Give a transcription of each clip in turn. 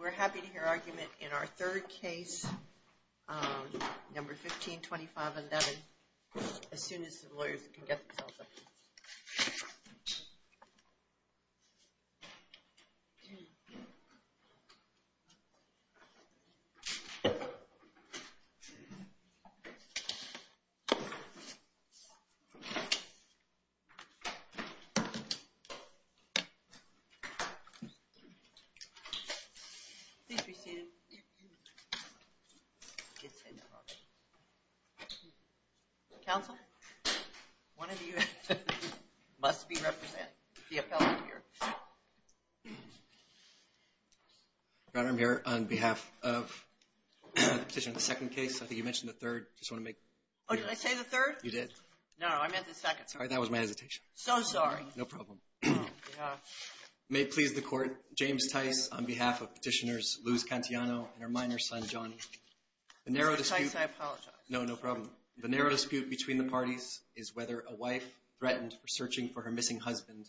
We're happy to hear argument in our third case, number 152511, as soon as the lawyers can get themselves up. Please be seated. Counsel, one of you must be representing the appellant here. Your Honor, I'm here on behalf of the petition of the second case. I think you mentioned the third. Oh, did I say the third? You did. No, I meant the second. Sorry, that was my hesitation. So sorry. No problem. May it please the Court, James Tice on behalf of petitioners Luz Cantillano and her minor son Johnny. Tice, I apologize. No, no problem. The narrow dispute between the parties is whether a wife threatened for searching for her missing husband,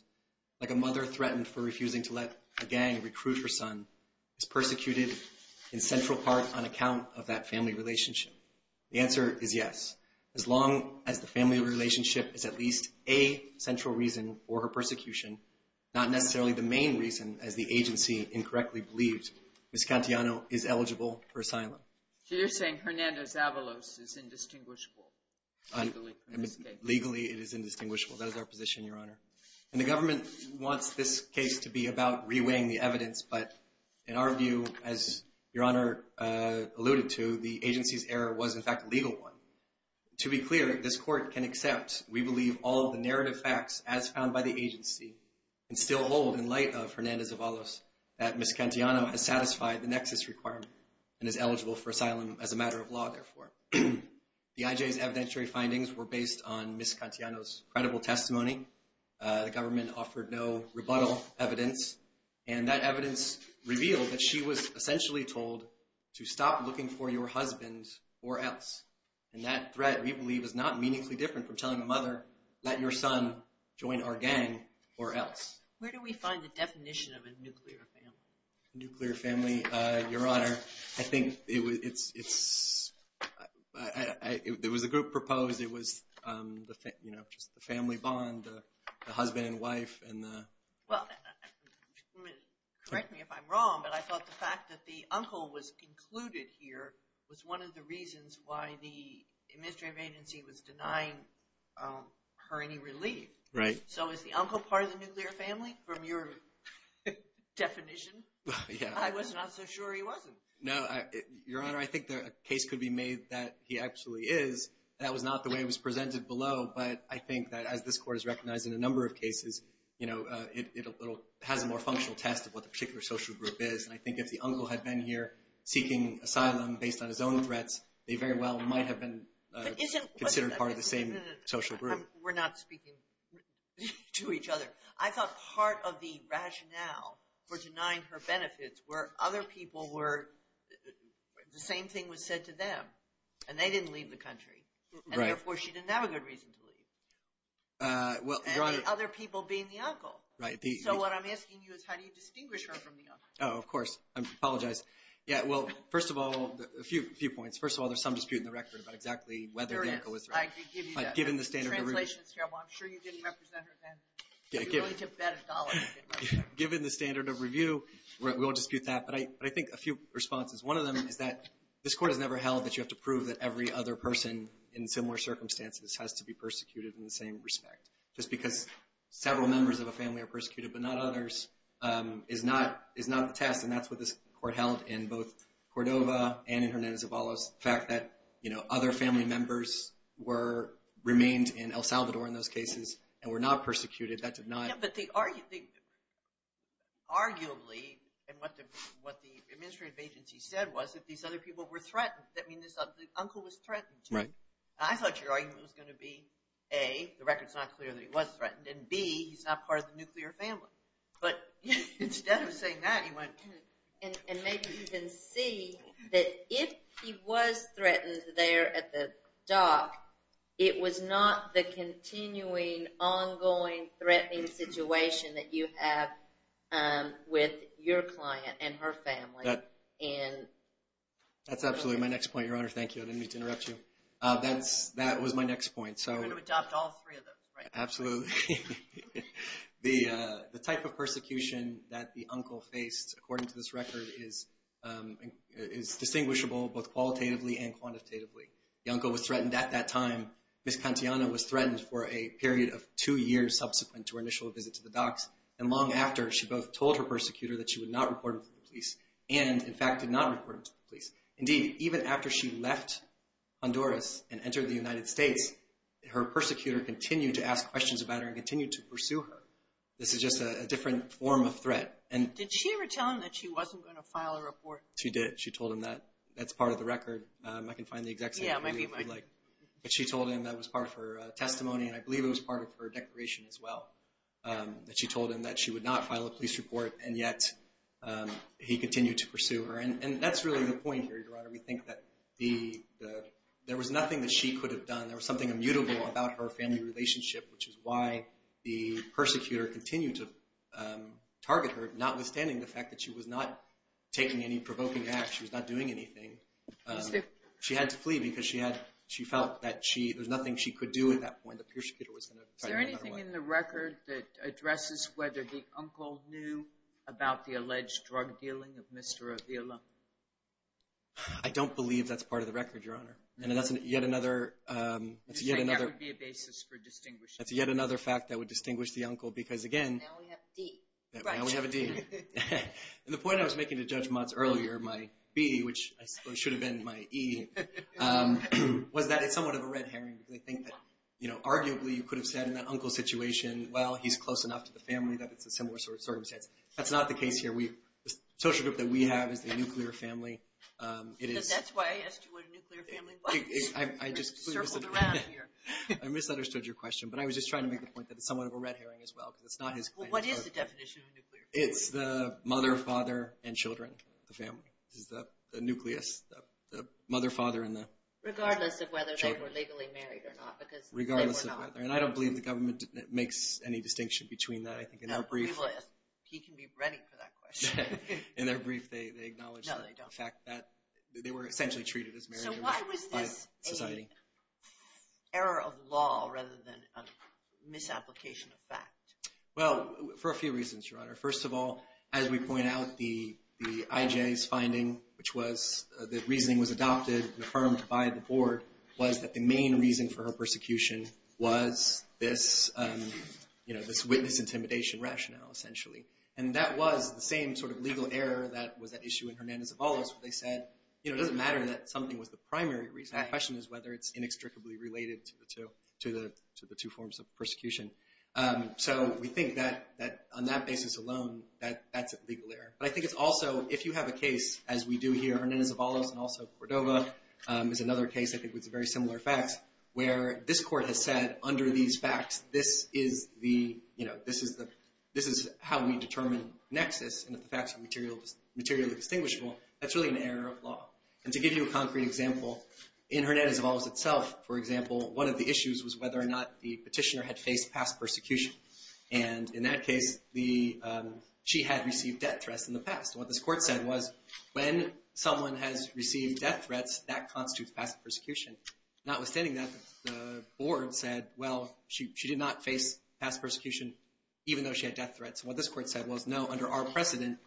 like a mother threatened for refusing to let a gang recruit her son, is persecuted in central part on account of that family relationship. The answer is yes. As long as the family relationship is at least a central reason for her persecution, not necessarily the main reason, as the agency incorrectly believes, Ms. Cantillano is eligible for asylum. So you're saying Hernando Zavalos is indistinguishable legally? Legally it is indistinguishable. That is our position, Your Honor. And the government wants this case to be about reweighing the evidence, but in our view, as Your Honor alluded to, the agency's error was in fact a legal one. To be clear, this Court can accept, we believe, all of the narrative facts as found by the agency and still hold in light of Hernando Zavalos that Ms. Cantillano has satisfied the nexus requirement and is eligible for asylum as a matter of law, therefore. The IJ's evidentiary findings were based on Ms. Cantillano's credible testimony. The government offered no rebuttal evidence, and that evidence revealed that she was essentially told to stop looking for your husband or else. And that threat, we believe, is not meaningfully different from telling a mother, let your son join our gang or else. Where do we find the definition of a nuclear family? Nuclear family, Your Honor, I think it was a group proposed. It was just the family bond, the husband and wife. Well, correct me if I'm wrong, but I thought the fact that the uncle was included here was one of the reasons why the administrative agency was denying her any relief. Right. So is the uncle part of the nuclear family from your definition? I was not so sure he wasn't. No, Your Honor, I think a case could be made that he actually is. That was not the way it was presented below, but I think that as this Court has recognized in a number of cases, you know, it has a more functional test of what the particular social group is. And I think if the uncle had been here seeking asylum based on his own threats, they very well might have been considered part of the same social group. We're not speaking to each other. I thought part of the rationale for denying her benefits were other people were the same thing was said to them, and they didn't leave the country, and therefore she didn't have a good reason to leave. And the other people being the uncle. Right. So what I'm asking you is how do you distinguish her from the uncle? Oh, of course. I apologize. Yeah, well, first of all, a few points. First of all, there's some dispute in the record about exactly whether the uncle was there. There is. I can give you that. Given the standard of review. Translation is terrible. I'm sure you didn't represent her then. You only took that dollar. Given the standard of review, we won't dispute that. But I think a few responses. One of them is that this court has never held that you have to prove that every other person in similar circumstances has to be persecuted in the same respect. Just because several members of a family are persecuted but not others is not the test, and that's what this court held in both Cordova and in Hernandez-Avalos. The fact that other family members remained in El Salvador in those cases and were not persecuted, that did not. Arguably, and what the administrative agency said was, if these other people were threatened, that means the uncle was threatened. Right. I thought your argument was going to be, A, the record is not clear that he was threatened, and B, he's not part of the nuclear family. But instead of saying that, he went. And maybe even C, that if he was threatened there at the dock, it was not the continuing, ongoing, threatening situation that you have with your client and her family. That's absolutely my next point, Your Honor. Thank you. I didn't mean to interrupt you. That was my next point. You're going to adopt all three of those, right? Absolutely. The type of persecution that the uncle faced, according to this record, is distinguishable both qualitatively and quantitatively. The uncle was threatened at that time. Ms. Cantiana was threatened for a period of two years subsequent to her initial visit to the docks. And long after, she both told her persecutor that she would not report him to the police and, in fact, did not report him to the police. Indeed, even after she left Honduras and entered the United States, her persecutor continued to ask questions about her and continued to pursue her. This is just a different form of threat. Did she ever tell him that she wasn't going to file a report? She did. She told him that. That's part of the record. I can find the exact same thing if you'd like. But she told him that was part of her testimony, and I believe it was part of her declaration as well, that she told him that she would not file a police report, and yet he continued to pursue her. And that's really the point here, Your Honor. We think that there was nothing that she could have done. There was something immutable about her family relationship, which is why the persecutor continued to target her, notwithstanding the fact that she was not taking any provoking acts. She was not doing anything. She had to flee because she felt that there was nothing she could do at that point. The persecutor was going to try another way. Is there anything in the record that addresses whether the uncle knew about the alleged drug dealing of Mr. Avila? I don't believe that's part of the record, Your Honor. And that's yet another... You say that would be a basis for distinguishing. That's yet another fact that would distinguish the uncle because, again... Now we have a D. Now we have a D. And the point I was making to Judge Motz earlier, my B, which I suppose should have been my E, was that it's somewhat of a red herring. They think that, you know, arguably you could have said in that uncle situation, well, he's close enough to the family that it's a similar sort of circumstance. That's not the case here. The social group that we have is the nuclear family. Because that's why I asked you what a nuclear family was. I just... Circled around here. I misunderstood your question. But I was just trying to make the point that it's somewhat of a red herring as well because it's not his... Well, what is the definition of a nuclear family? It's the mother, father, and children, the family. This is the nucleus, the mother, father, and the... Regardless of whether they were legally married or not because they were not. Regardless of whether. And I don't believe the government makes any distinction between that. I think in their brief... He can be ready for that question. In their brief they acknowledge... No, they don't. The fact that they were essentially treated as married by society. So why was this an error of law rather than a misapplication of fact? Well, for a few reasons, Your Honor. First of all, as we point out, the IJ's finding, which was the reasoning was adopted and affirmed by the board, was that the main reason for her persecution was this witness intimidation rationale essentially. And that was the same sort of legal error that was at issue in Hernandez-Avalos. They said, you know, it doesn't matter that something was the primary reason. The question is whether it's inextricably related to the two forms of persecution. So we think that on that basis alone, that's a legal error. But I think it's also, if you have a case, as we do here, Hernandez-Avalos and also Cordova, is another case I think with very similar facts, where this court has said under these facts, this is the, you know, this is how we determine nexus. And if the facts are materially distinguishable, that's really an error of law. And to give you a concrete example, in Hernandez-Avalos itself, for example, one of the issues was whether or not the petitioner had faced past persecution. And in that case, she had received death threats in the past. And what this court said was when someone has received death threats, that constitutes past persecution. Notwithstanding that, the board said, well, she did not face past persecution even though she had death threats. And what this court said was, no, under our precedent,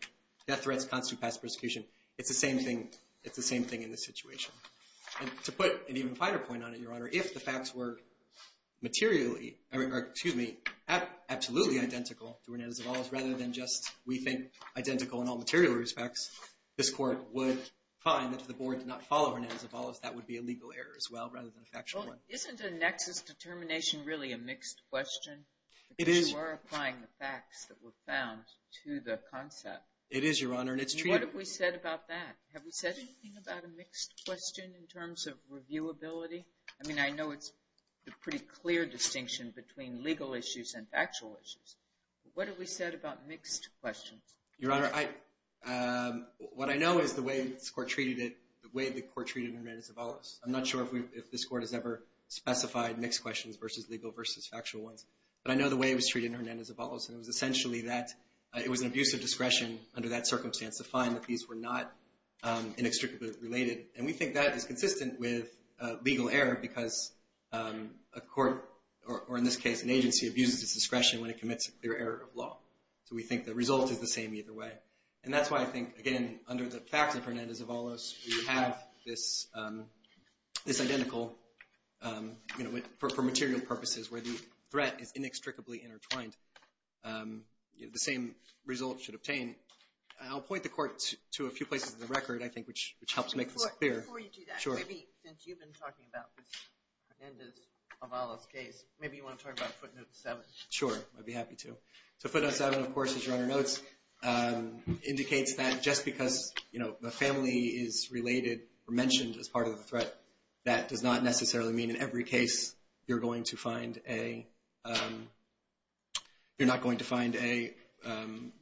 death threats constitute past persecution. It's the same thing in this situation. And to put an even finer point on it, Your Honor, if the facts were materially, or excuse me, absolutely identical to Hernandez-Avalos rather than just, we think, identical in all material respects, this court would find that if the board did not follow Hernandez-Avalos, that would be a legal error as well rather than a factual one. Well, isn't a nexus determination really a mixed question? It is. Because you are applying the facts that were found to the concept. It is, Your Honor, and it's true. And what have we said about that? Have we said anything about a mixed question in terms of reviewability? I mean, I know it's a pretty clear distinction between legal issues and factual issues. What have we said about mixed questions? Your Honor, what I know is the way this court treated it, the way the court treated Hernandez-Avalos. I'm not sure if this court has ever specified mixed questions versus legal versus factual ones. But I know the way it was treated in Hernandez-Avalos, and it was essentially that it was an abuse of discretion under that circumstance to find that these were not inextricably related. And we think that is consistent with legal error because a court, or in this case, an agency abuses its discretion when it commits a clear error of law. So we think the result is the same either way. And that's why I think, again, under the facts of Hernandez-Avalos, we have this identical, you know, for material purposes where the threat is inextricably intertwined. The same result should obtain. I'll point the court to a few places in the record, I think, which helps make this clear. Before you do that, maybe since you've been talking about this Hernandez-Avalos case, maybe you want to talk about Footnote 7. Sure, I'd be happy to. So Footnote 7, of course, as Your Honor notes, indicates that just because, you know, the family is related or mentioned as part of the threat, that does not necessarily mean in every case you're going to find a, you're not going to find a,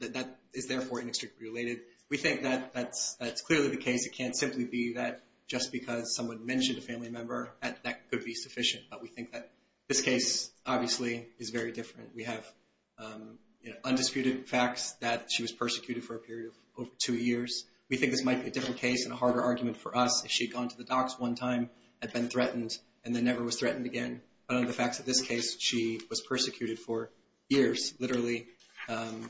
that is therefore inextricably related. We think that that's clearly the case. It can't simply be that just because someone mentioned a family member that that could be sufficient. But we think that this case, obviously, is very different. We have, you know, undisputed facts that she was persecuted for a period of over two years. We think this might be a different case and a harder argument for us if she had gone to the docs one time, had been threatened, and then never was threatened again. But under the facts of this case, she was persecuted for years, literally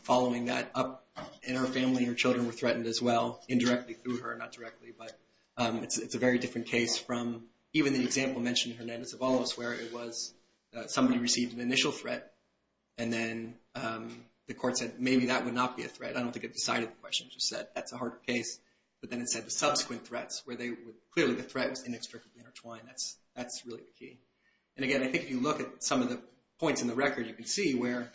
following that up. And her family and her children were threatened as well, indirectly through her, not directly. But it's a very different case from even the example mentioned in Hernandez-Avalos, where it was somebody received an initial threat, and then the court said maybe that would not be a threat. I don't think it decided the question. It just said that's a harder case. But then it said the subsequent threats, where clearly the threat was inextricably intertwined. That's really the key. And, again, I think if you look at some of the points in the record, you can see where,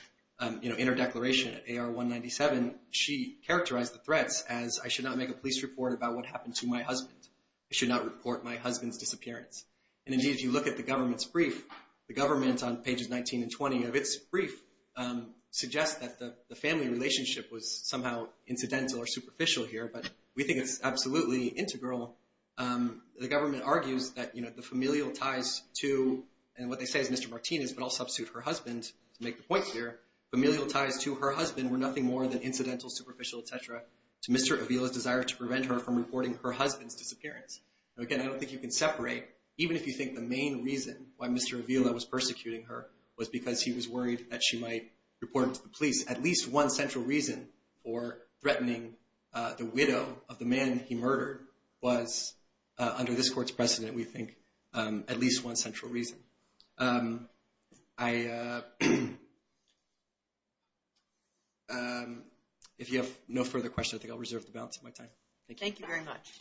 you know, in her declaration at AR 197, she characterized the threats as, I should not make a police report about what happened to my husband. I should not report my husband's disappearance. And, indeed, if you look at the government's brief, the government on pages 19 and 20 of its brief suggests that the family relationship was somehow incidental or superficial here. But we think it's absolutely integral. The government argues that, you know, the familial ties to, and what they say is Mr. Martinez, but I'll substitute her husband to make the point here. Familial ties to her husband were nothing more than incidental, superficial, et cetera, to Mr. Avila's desire to prevent her from reporting her husband's disappearance. Again, I don't think you can separate, even if you think the main reason why Mr. Avila was persecuting her was because he was worried that she might report him to the police. At least one central reason for threatening the widow of the man he murdered was, under this court's precedent, we think, at least one central reason. If you have no further questions, I think I'll reserve the balance of my time. Thank you. Thank you very much.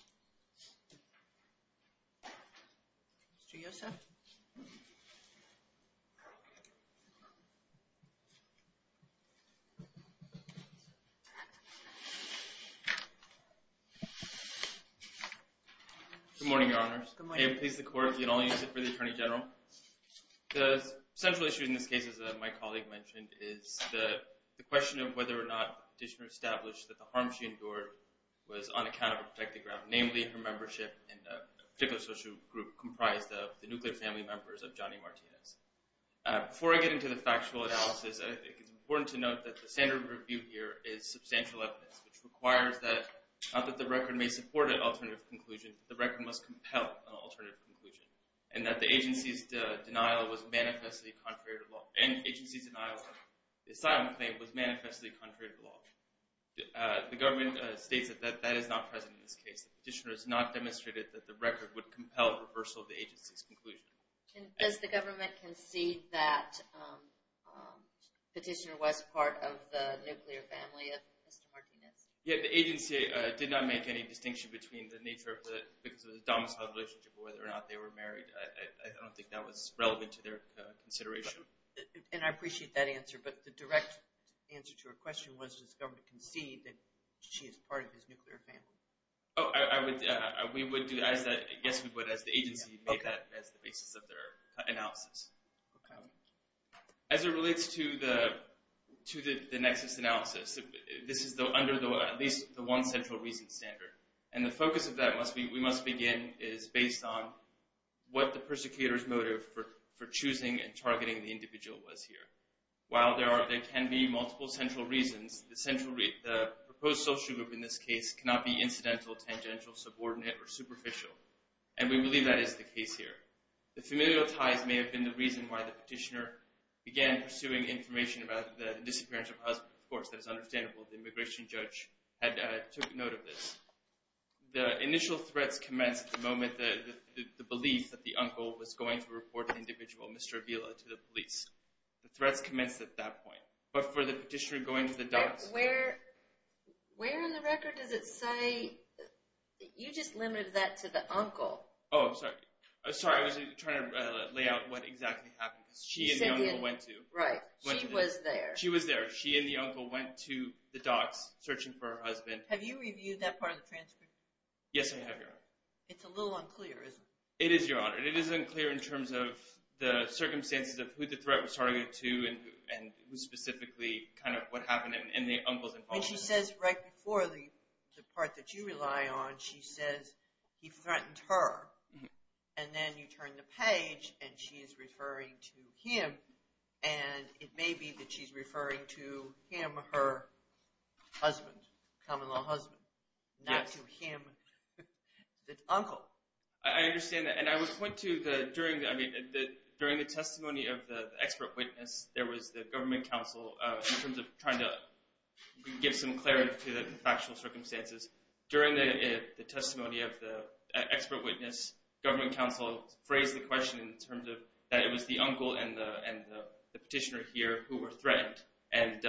Mr. Yosef? Good morning, Your Honors. Good morning. May it please the Court, the attorney general. The central issue in this case, as my colleague mentioned, is the question of whether or not the petitioner established that the harm she endured was on account of a protected ground, namely her membership in a particular social group comprised of the nuclear family members of Johnny Martinez. Before I get into the factual analysis, I think it's important to note that the standard of review here is substantial evidence, which requires that, not that the record may support an alternative conclusion, but the record must compel an alternative conclusion, and that the agency's denial of asylum claim was manifestly contrary to the law. The government states that that is not present in this case. The petitioner has not demonstrated that the record would compel reversal of the agency's conclusion. Does the government concede that the petitioner was part of the nuclear family of Mr. Martinez? Yes, the agency did not make any distinction between the nature of the domiciled relationship or whether or not they were married. I don't think that was relevant to their consideration. And I appreciate that answer, but the direct answer to your question was, does the government concede that she is part of his nuclear family? Yes, we would, as the agency made that as the basis of their analysis. As it relates to the nexus analysis, this is under at least the one central reason standard, and the focus of that, We Must Begin, is based on what the persecutor's motive for choosing and targeting the individual was here. While there can be multiple central reasons, the proposed social group in this case cannot be incidental, tangential, subordinate, or superficial. And we believe that is the case here. The familial ties may have been the reason why the petitioner began pursuing information about the disappearance of her husband. Of course, that is understandable. The immigration judge had took note of this. The initial threats commenced at the moment the belief that the uncle was going to report the individual, Mr. Avila, to the police. The threats commenced at that point. But for the petitioner going to the docs... Where on the record does it say, you just limited that to the uncle. Oh, sorry. I was trying to lay out what exactly happened. She and the uncle went to... Right. She was there. She was there. She and the uncle went to the docs searching for her husband. Have you reviewed that part of the transcript? Yes, I have, Your Honor. It's a little unclear, isn't it? It is, Your Honor. It is unclear in terms of the circumstances of who the threat was targeted to and specifically kind of what happened in the uncle's involvement. When she says right before the part that you rely on, she says he threatened her. And then you turn the page, and she is referring to him. And it may be that she's referring to him, her husband, common-law husband, not to him, the uncle. I understand that. And I would point to during the testimony of the expert witness, there was the government counsel in terms of trying to give some clarity to the factual circumstances. During the testimony of the expert witness, government counsel phrased the question in terms of that it was the uncle and the petitioner here who were threatened. And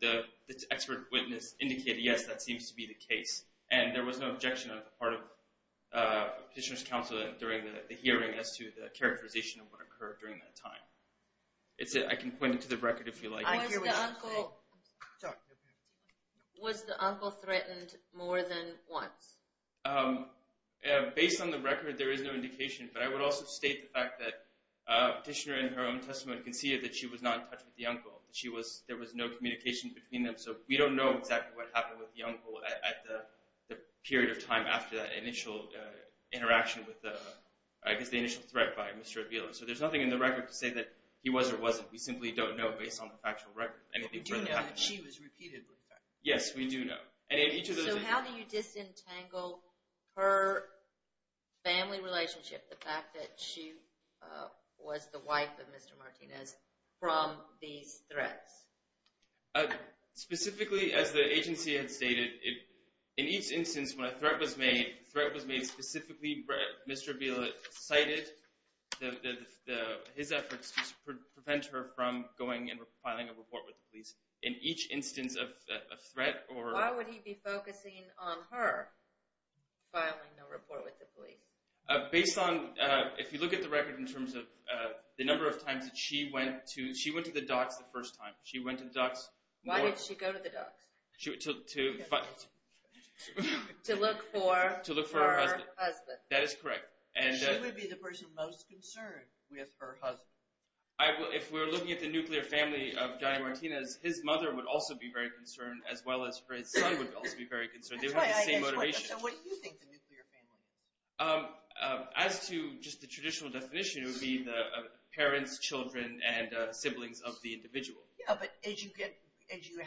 the expert witness indicated, yes, that seems to be the case. And there was no objection on the part of petitioner's counsel during the hearing as to the characterization of what occurred during that time. That's it. I can point it to the record if you like. Was the uncle threatened more than once? Based on the record, there is no indication. But I would also state the fact that the petitioner in her own testimony conceded that she was not in touch with the uncle, that there was no communication between them. So we don't know exactly what happened with the uncle at the period of time after that initial interaction with the, I guess the initial threat by Mr. Avila. So there's nothing in the record to say that he was or wasn't. We simply don't know based on the factual record. We do know that she was repeatedly threatened. Yes, we do know. So how do you disentangle her family relationship, the fact that she was the wife of Mr. Martinez, from these threats? Specifically, as the agency had stated, in each instance when a threat was made, a threat was made specifically where Mr. Avila cited his efforts to prevent her from going and filing a report with the police. In each instance of a threat or… Why would he be focusing on her filing a report with the police? Based on, if you look at the record in terms of the number of times that she went to, she went to the docks the first time. She went to the docks more… Why did she go to the docks? To look for her husband. That is correct. She would be the person most concerned with her husband. If we're looking at the nuclear family of Johnny Martinez, his mother would also be very concerned, as well as her son would also be very concerned. They would have the same motivation. So what do you think the nuclear family is? As to just the traditional definition, it would be the parents, children, and siblings of the individual. Yeah, but as you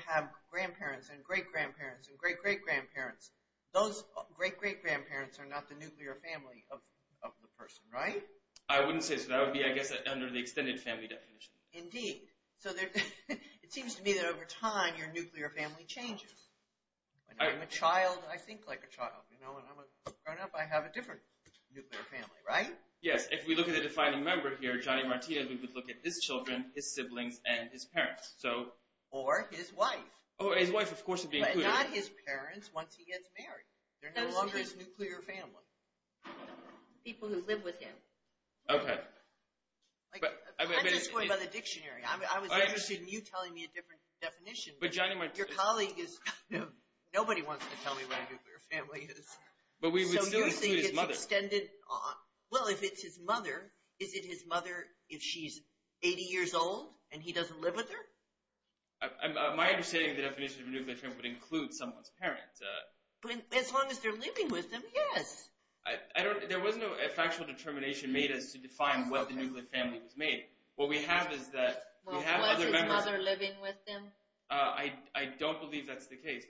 have grandparents and great-grandparents and great-great-grandparents, those great-great-grandparents are not the nuclear family of the person, right? I wouldn't say so. That would be, I guess, under the extended family definition. Indeed. So it seems to me that over time, your nuclear family changes. I'm a child. I think like a child. Growing up, I have a different nuclear family, right? Yes. If we look at the defining member here, Johnny Martinez, we would look at his children, his siblings, and his parents. Or his wife. Or his wife, of course, would be included. But not his parents once he gets married. They're no longer his nuclear family. People who live with him. Okay. I'm just going by the dictionary. I was interested in you telling me a different definition. Your colleague is kind of – nobody wants to tell me what a nuclear family is. But we would still include his mother. So you think it's extended – well, if it's his mother, is it his mother if she's 80 years old and he doesn't live with her? My understanding of the definition of a nuclear family would include someone's parents. As long as they're living with them, yes. There was no factual determination made as to define what the nuclear family was made. What we have is that we have other members. I don't believe that's the case.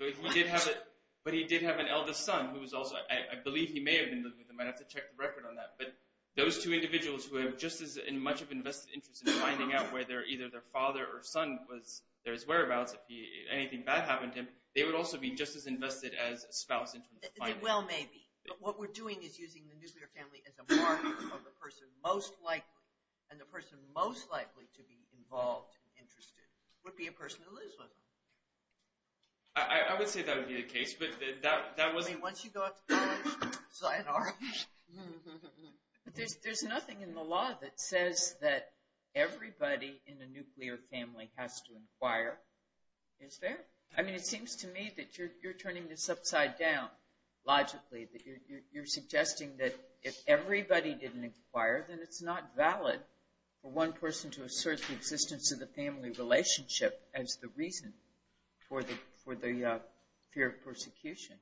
But he did have an eldest son who was also – I believe he may have been living with him. I'd have to check the record on that. But those two individuals who have just as much of an invested interest in finding out whether either their father or son was their whereabouts, if anything bad happened to him, they would also be just as invested as a spouse in terms of finding out. They will maybe. But what we're doing is using the nuclear family as a marker for the person most likely, and the person most likely to be involved and interested would be a person who lives with them. I would say that would be the case, but that wasn't – I mean, once you go out to college, it's like an argument. There's nothing in the law that says that everybody in a nuclear family has to inquire. Is there? I mean, it seems to me that you're turning this upside down logically, that you're suggesting that if everybody didn't inquire, then it's not valid for one person to assert the existence of the family relationship as the reason for the fear of persecution.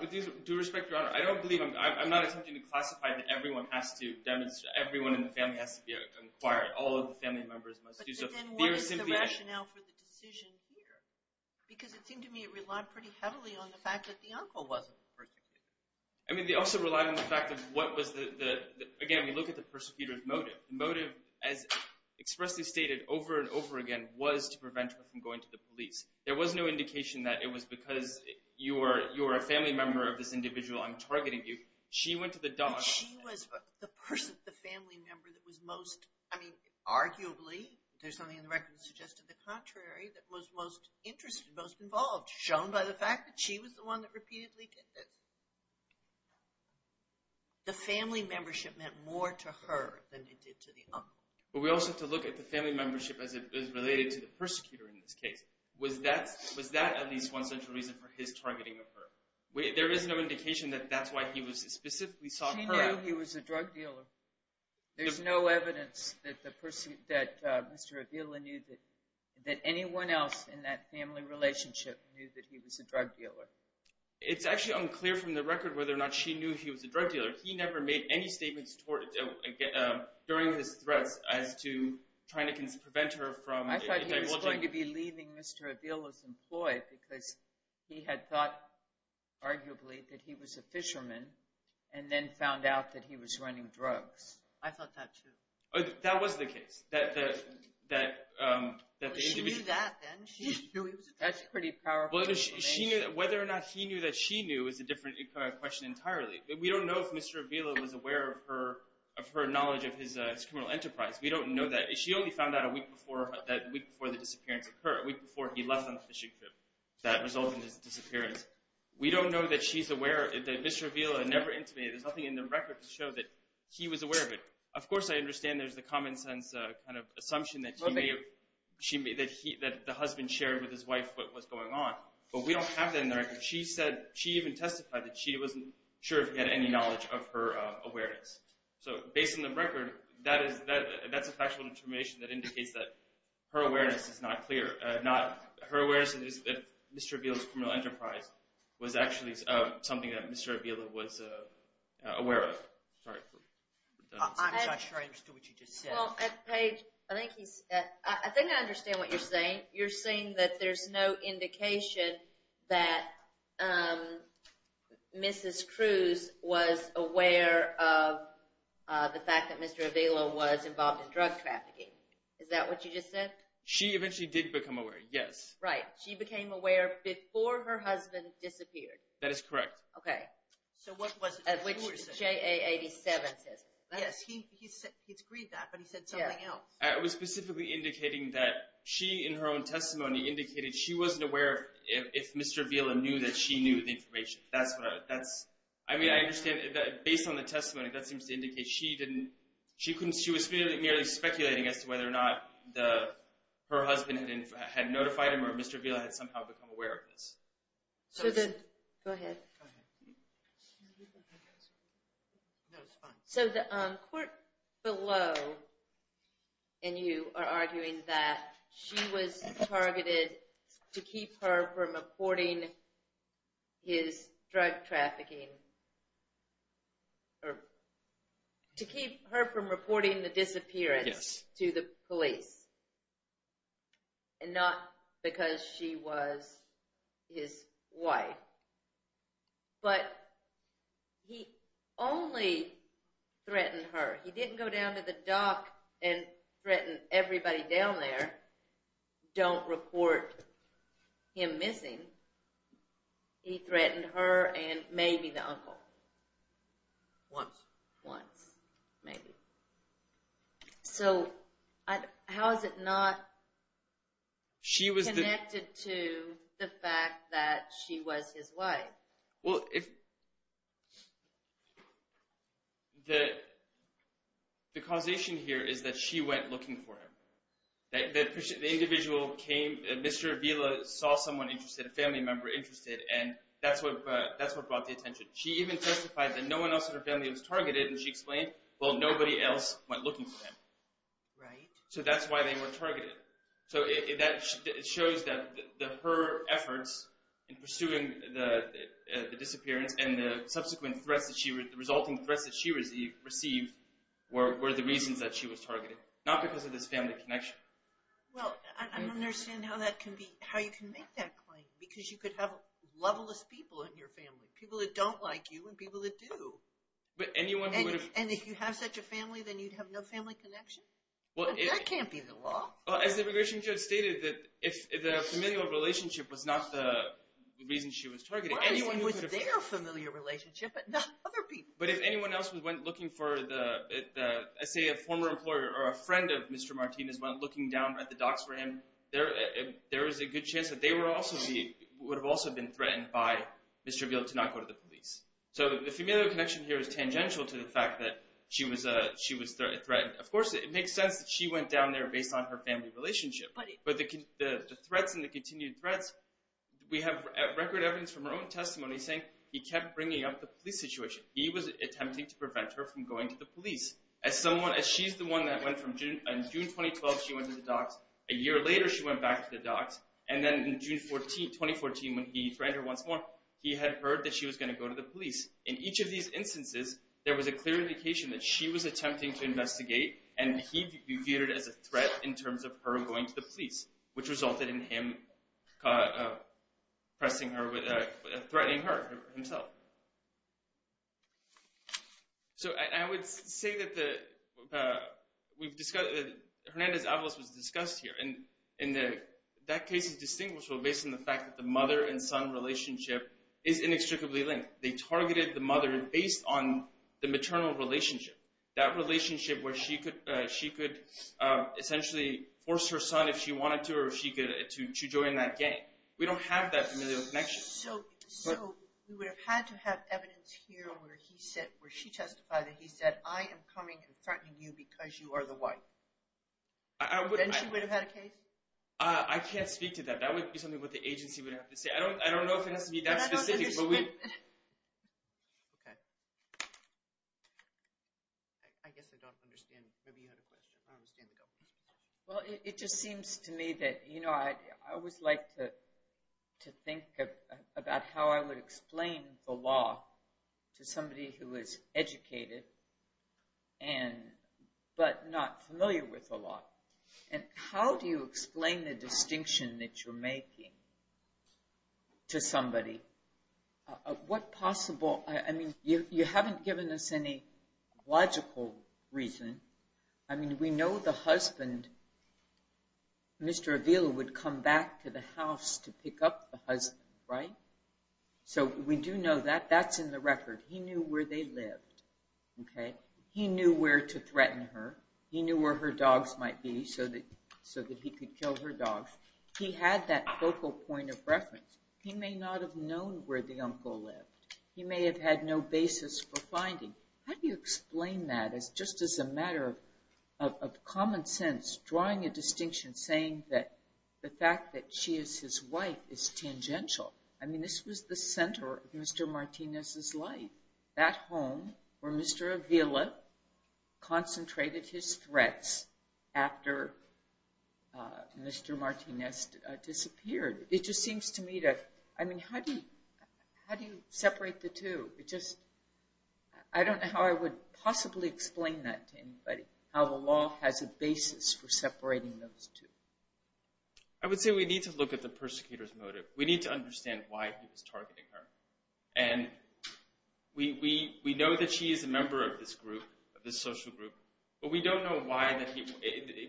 With due respect, Your Honor, I don't believe – I'm not attempting to classify that everyone has to – everyone in the family has to inquire. All of the family members must do so. But then what is the rationale for the decision here? Because it seemed to me it relied pretty heavily on the fact that the uncle wasn't persecuted. I mean, they also relied on the fact of what was the – again, we look at the persecutor's motive. The motive, as expressly stated over and over again, was to prevent her from going to the police. There was no indication that it was because you are a family member of this individual I'm targeting you. She went to the dock. She was the family member that was most – I mean, arguably, there's something in the record that suggested the contrary, that was most interested, most involved, shown by the fact that she was the one that repeatedly did this. The family membership meant more to her than it did to the uncle. But we also have to look at the family membership as it is related to the persecutor in this case. Was that at least one central reason for his targeting of her? There is no indication that that's why he specifically sought her out. She knew he was a drug dealer. There's no evidence that Mr. Avila knew that anyone else in that family relationship knew that he was a drug dealer. It's actually unclear from the record whether or not she knew he was a drug dealer. He never made any statements during his threats as to trying to prevent her from – He was going to be leaving Mr. Avila's employ because he had thought arguably that he was a fisherman and then found out that he was running drugs. I thought that too. That was the case, that the individual – She knew that then. She knew he was a drug dealer. That's pretty powerful information. Whether or not he knew that she knew is a different question entirely. We don't know if Mr. Avila was aware of her knowledge of his criminal enterprise. We don't know that. She only found out a week before the disappearance occurred, a week before he left on the fishing trip that resulted in his disappearance. We don't know that she's aware, that Mr. Avila never intimated. There's nothing in the record to show that he was aware of it. Of course, I understand there's the common sense kind of assumption that the husband shared with his wife what was going on, but we don't have that in the record. She even testified that she wasn't sure if he had any knowledge of her awareness. Based on the record, that's a factual information that indicates that her awareness is not clear. Her awareness is that Mr. Avila's criminal enterprise was actually something that Mr. Avila was aware of. I'm not sure I understood what you just said. Well, Paige, I think I understand what you're saying. You're saying that there's no indication that Mrs. Cruz was aware of the fact that Mr. Avila was involved in drug trafficking. Is that what you just said? She eventually did become aware, yes. Right. She became aware before her husband disappeared. That is correct. Okay. So what was it? At which JA-87 says it. Yes, he's agreed that, but he said something else. It was specifically indicating that she, in her own testimony, indicated she wasn't aware if Mr. Avila knew that she knew the information. I mean, I understand that, based on the testimony, that seems to indicate she was merely speculating as to whether or not her husband had notified him or if Mr. Avila had somehow become aware of this. Go ahead. No, it's fine. So the court below, and you are arguing that she was targeted to keep her from reporting his drug trafficking, or to keep her from reporting the disappearance to the police and not because she was his wife. But he only threatened her. He didn't go down to the dock and threaten everybody down there, don't report him missing. He threatened her and maybe the uncle. Once. Once. Maybe. So how is it not connected to the fact that she was his wife? Well, the causation here is that she went looking for him. The individual came, Mr. Avila saw someone interested, a family member interested, and that's what brought the attention. She even testified that no one else in her family was targeted, and she explained, well, nobody else went looking for him. Right. So that's why they were targeted. So that shows that her efforts in pursuing the disappearance and the subsequent threats, the resulting threats that she received, were the reasons that she was targeted, not because of this family connection. Well, I don't understand how you can make that claim, because you could have loveless people in your family, people that don't like you and people that do. And if you have such a family, then you'd have no family connection? That can't be the law. As the immigration judge stated, the familial relationship was not the reason she was targeted. It was their familial relationship, but not other people's. But if anyone else went looking for, say, a former employer or a friend of Mr. Martinez, went looking down at the docks for him, there is a good chance that they would have also been threatened by Ms. Treville to not go to the police. So the familial connection here is tangential to the fact that she was threatened. Of course, it makes sense that she went down there based on her family relationship. But the threats and the continued threats, we have record evidence from her own testimony saying he kept bringing up the police situation. He was attempting to prevent her from going to the police. As she's the one that went from June 2012, she went to the docks. A year later, she went back to the docks. And then in June 2014, when he threatened her once more, he had heard that she was going to go to the police. In each of these instances, there was a clear indication that she was attempting to investigate, and he viewed it as a threat in terms of her going to the police, which resulted in him threatening her himself. So I would say that Hernandez-Avalos was discussed here. And that case is distinguishable based on the fact that the mother and son relationship is inextricably linked. They targeted the mother based on the maternal relationship, that relationship where she could essentially force her son, if she wanted to, to join that gang. We don't have that familial connection. So we would have had to have evidence here where she testified that he said, I am coming and threatening you because you are the wife. Then she would have had a case? I can't speak to that. That would be something that the agency would have to say. I don't know if it has to be that specific. Okay. I guess I don't understand. Maybe you had a question. I don't understand the government's position. Well, it just seems to me that, you know, I always like to think about how I would explain the law to somebody who is educated but not familiar with the law. And how do you explain the distinction that you're making to somebody? What possible, I mean, you haven't given us any logical reason. I mean, we know the husband, Mr. Avila, would come back to the house to pick up the husband, right? So we do know that. That's in the record. He knew where they lived, okay? He knew where to threaten her. He knew where her dogs might be so that he could kill her dogs. He had that focal point of reference. He may not have known where the uncle lived. He may have had no basis for finding. How do you explain that just as a matter of common sense, drawing a distinction, saying that the fact that she is his wife is tangential? I mean, this was the center of Mr. Martinez's life, that home where Mr. Avila concentrated his threats after Mr. Martinez disappeared. It just seems to me that, I mean, how do you separate the two? It just, I don't know how I would possibly explain that to anybody, how the law has a basis for separating those two. I would say we need to look at the persecutor's motive. We need to understand why he was targeting her. And we know that she is a member of this group, of this social group, but we don't know why,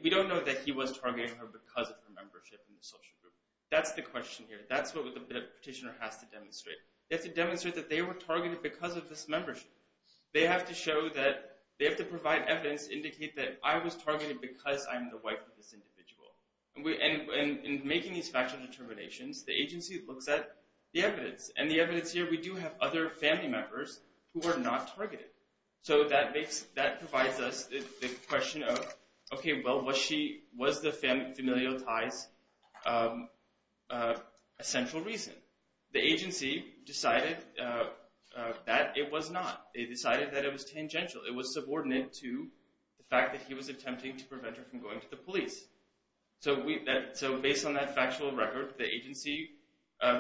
we don't know that he was targeting her because of her membership in the social group. That's the question here. That's what the petitioner has to demonstrate. They have to demonstrate that they were targeted because of this membership. They have to show that, they have to provide evidence to indicate that I was targeted because I'm the wife of this individual. And in making these factual determinations, the agency looks at the evidence. And the evidence here, we do have other family members who were not targeted. So that makes, that provides us the question of, okay, well, was she, was the familial ties a central reason? The agency decided that it was not. They decided that it was tangential. It was subordinate to the fact that he was attempting to prevent her from going to the police. So based on that factual record, the agency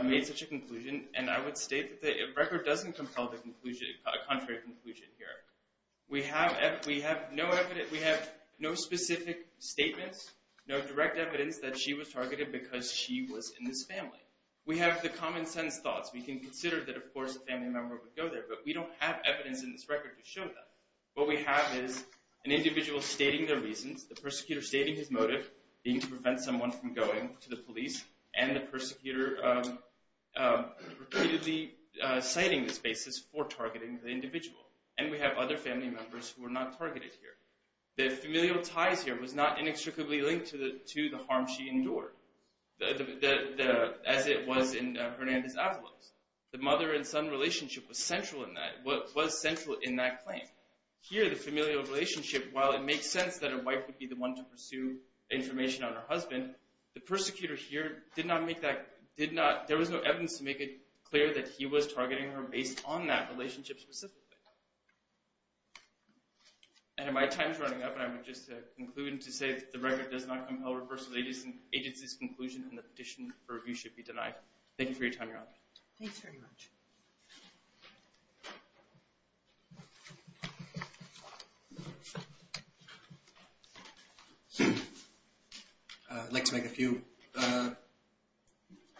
made such a conclusion. And I would state that the record doesn't compel the conclusion, a contrary conclusion here. We have no evidence, we have no specific statements, no direct evidence that she was targeted because she was in this family. We have the common sense thoughts. We can consider that, of course, a family member would go there. But we don't have evidence in this record to show that. What we have is an individual stating their reasons, the persecutor stating his motive, being to prevent someone from going to the police, and the persecutor repeatedly citing this basis for targeting the individual. And we have other family members who were not targeted here. The familial ties here was not inextricably linked to the harm she endured. As it was in Hernandez-Avalos. The mother and son relationship was central in that claim. Here, the familial relationship, while it makes sense that a wife would be the one to pursue information on her husband, the persecutor here did not make that – there was no evidence to make it clear that he was targeting her based on that relationship specifically. And if my time is running out, I would just conclude to say that the record does not compel reversal of the agency's conclusion and the petition for review should be denied. Thank you for your time, Your Honor. Thanks very much. I'd like to make a few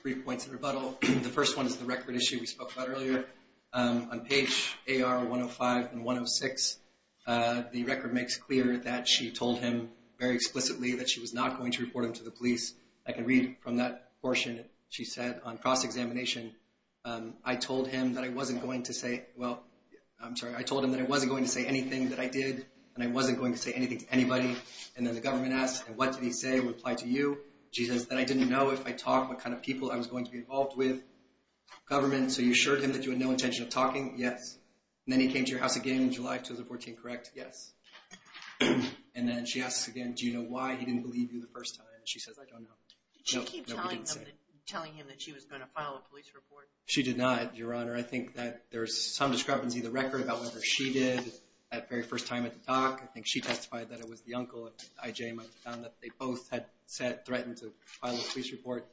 brief points in rebuttal. The first one is the record issue we spoke about earlier. On page AR-105 and 106, the record makes clear that she told him very explicitly that she was not going to report him to the police. I can read from that portion. She said, on cross-examination, I told him that I wasn't going to say – well, I'm sorry. I told him that I wasn't going to say anything that I did, and I wasn't going to say anything to anybody. And then the government asked, what did he say? I replied to you. She says that I didn't know if I talked what kind of people I was going to be involved with. Government, so you assured him that you had no intention of talking? Yes. And then he came to your house again in July of 2014, correct? Yes. And then she asks again, do you know why he didn't believe you the first time? She says, I don't know. Did she keep telling him that she was going to file a police report? She did not, Your Honor. I think that there's some discrepancy in the record about whether she did that very first time at the dock. I think she testified that it was the uncle, I.J., that they both had threatened to file a police report.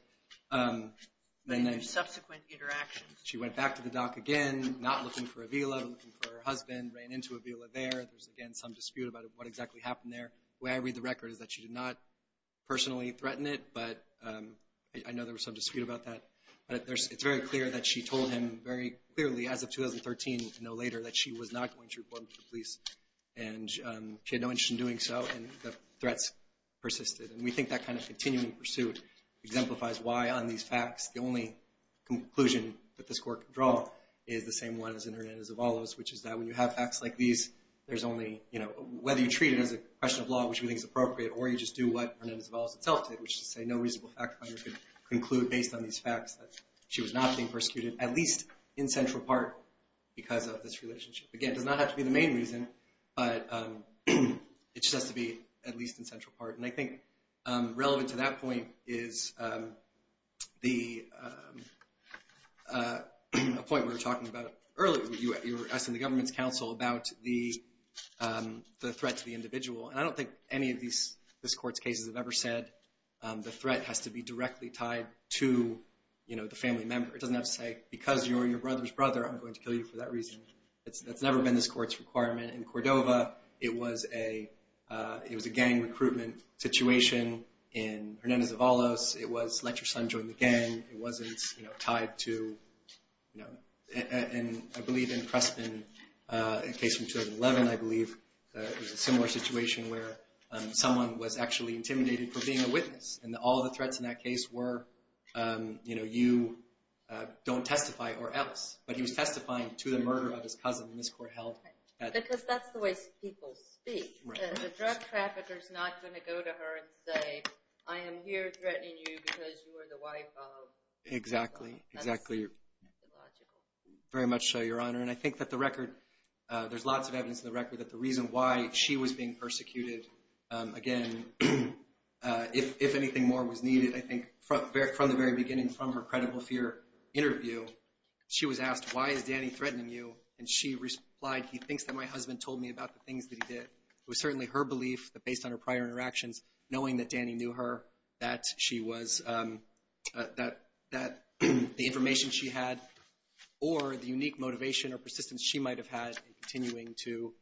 Subsequent interactions. She went back to the dock again, not looking for a villa, looking for her husband, ran into a villa there. There's, again, some dispute about what exactly happened there. The way I read the record is that she did not personally threaten it, but I know there was some dispute about that. But it's very clear that she told him very clearly as of 2013, no later, that she was not going to report him to the police. And she had no interest in doing so, and the threats persisted. And we think that kind of continuing pursuit exemplifies why, on these facts, the only conclusion that this court can draw is the same one as in Hernandez-Zavalo's, which is that when you have facts like these, there's only, you know, whether you treat it as a question of law, which we think is appropriate, or you just do what Hernandez-Zavalo's itself did, which is to say no reasonable fact finder can conclude, based on these facts, that she was not being persecuted, at least in central part, because of this relationship. Again, it does not have to be the main reason, but it just has to be at least in central part. And I think relevant to that point is the point we were talking about earlier. You were asking the government's counsel about the threat to the individual. And I don't think any of this court's cases have ever said the threat has to be directly tied to, you know, the family member. It doesn't have to say, because you're your brother's brother, I'm going to kill you for that reason. That's never been this court's requirement. And in Cordova, it was a gang recruitment situation. In Hernandez-Zavalo's, it was let your son join the gang. It wasn't, you know, tied to, you know. And I believe in Crespin, a case from 2011, I believe, it was a similar situation where someone was actually intimidated for being a witness. And all the threats in that case were, you know, you don't testify or else. But he was testifying to the murder of his cousin in this court held. Because that's the way people speak. The drug trafficker's not going to go to her and say, I am here threatening you because you are the wife of. Exactly, exactly. That's illogical. Very much so, Your Honor. And I think that the record, there's lots of evidence in the record that the reason why she was being persecuted, again, if anything more was needed, I think from the very beginning, from her credible fear interview, she was asked, why is Danny threatening you? And she replied, he thinks that my husband told me about the things that he did. It was certainly her belief that based on her prior interactions, knowing that Danny knew her, that she was, that the information she had or the unique motivation or persistence she might have had in continuing to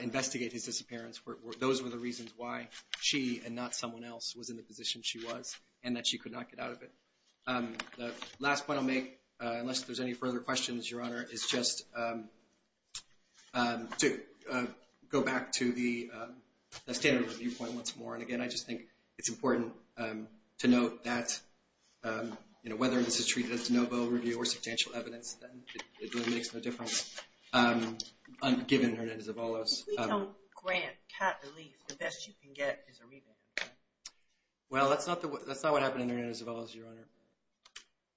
investigate his disappearance, those were the reasons why she and not someone else was in the position she was and that she could not get out of it. The last point I'll make, unless there's any further questions, Your Honor, is just to go back to the standard review point once more. And, again, I just think it's important to note that, you know, whether this is treated as de novo review or substantial evidence, it really makes no difference given Hernandez-Avalos. If we don't grant cat relief, the best you can get is a revamp. Well, that's not what happened in Hernandez-Avalos, Your Honor.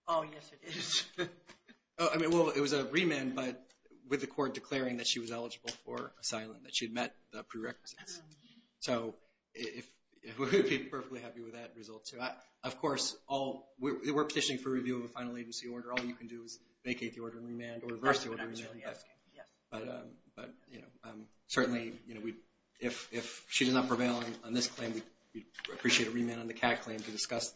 Oh, yes, it is. I mean, well, it was a remand, but with the court declaring that she was eligible for asylum, that she had met the prerequisites. So we would be perfectly happy with that result, too. Of course, we're petitioning for review of a final agency order. All you can do is vacate the order and remand or reverse the order. That's what I'm actually asking, yes. But, you know, certainly, you know, if she did not prevail on this claim, we'd appreciate a remand on the cat claim to discuss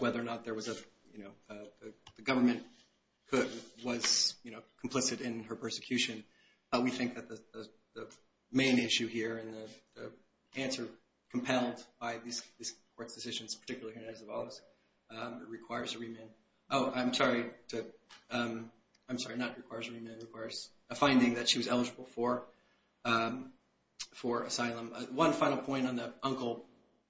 whether or not there was a, you know, the government was, you know, complicit in her persecution. We think that the main issue here and the answer compelled by this court's decisions, particularly Hernandez-Avalos, requires a remand. Oh, I'm sorry. I'm sorry, not requires a remand. It requires a finding that she was eligible for asylum. One final point on the uncle.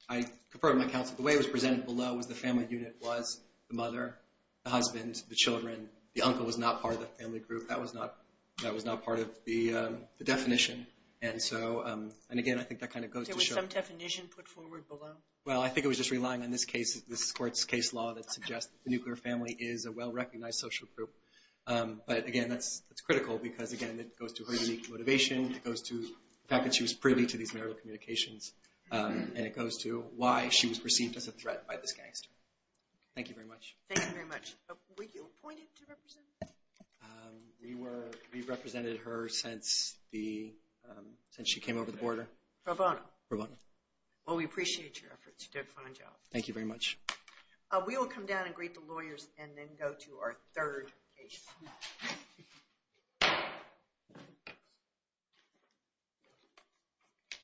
I concur with my counsel. The way it was presented below was the family unit was the mother, the husband, the children. The uncle was not part of the family group. That was not part of the definition. And so, and again, I think that kind of goes to show. There was some definition put forward below? Well, I think it was just relying on this case, this court's case law, that suggests the nuclear family is a well-recognized social group. But, again, that's critical because, again, it goes to her unique motivation. It goes to the fact that she was privy to these marital communications. And it goes to why she was perceived as a threat by this gangster. Thank you very much. Thank you very much. Were you appointed to represent her? We represented her since she came over the border. Pro bono. Pro bono. Well, we appreciate your efforts. You did a fine job. Thank you very much. We will come down and greet the lawyers and then go to our third case.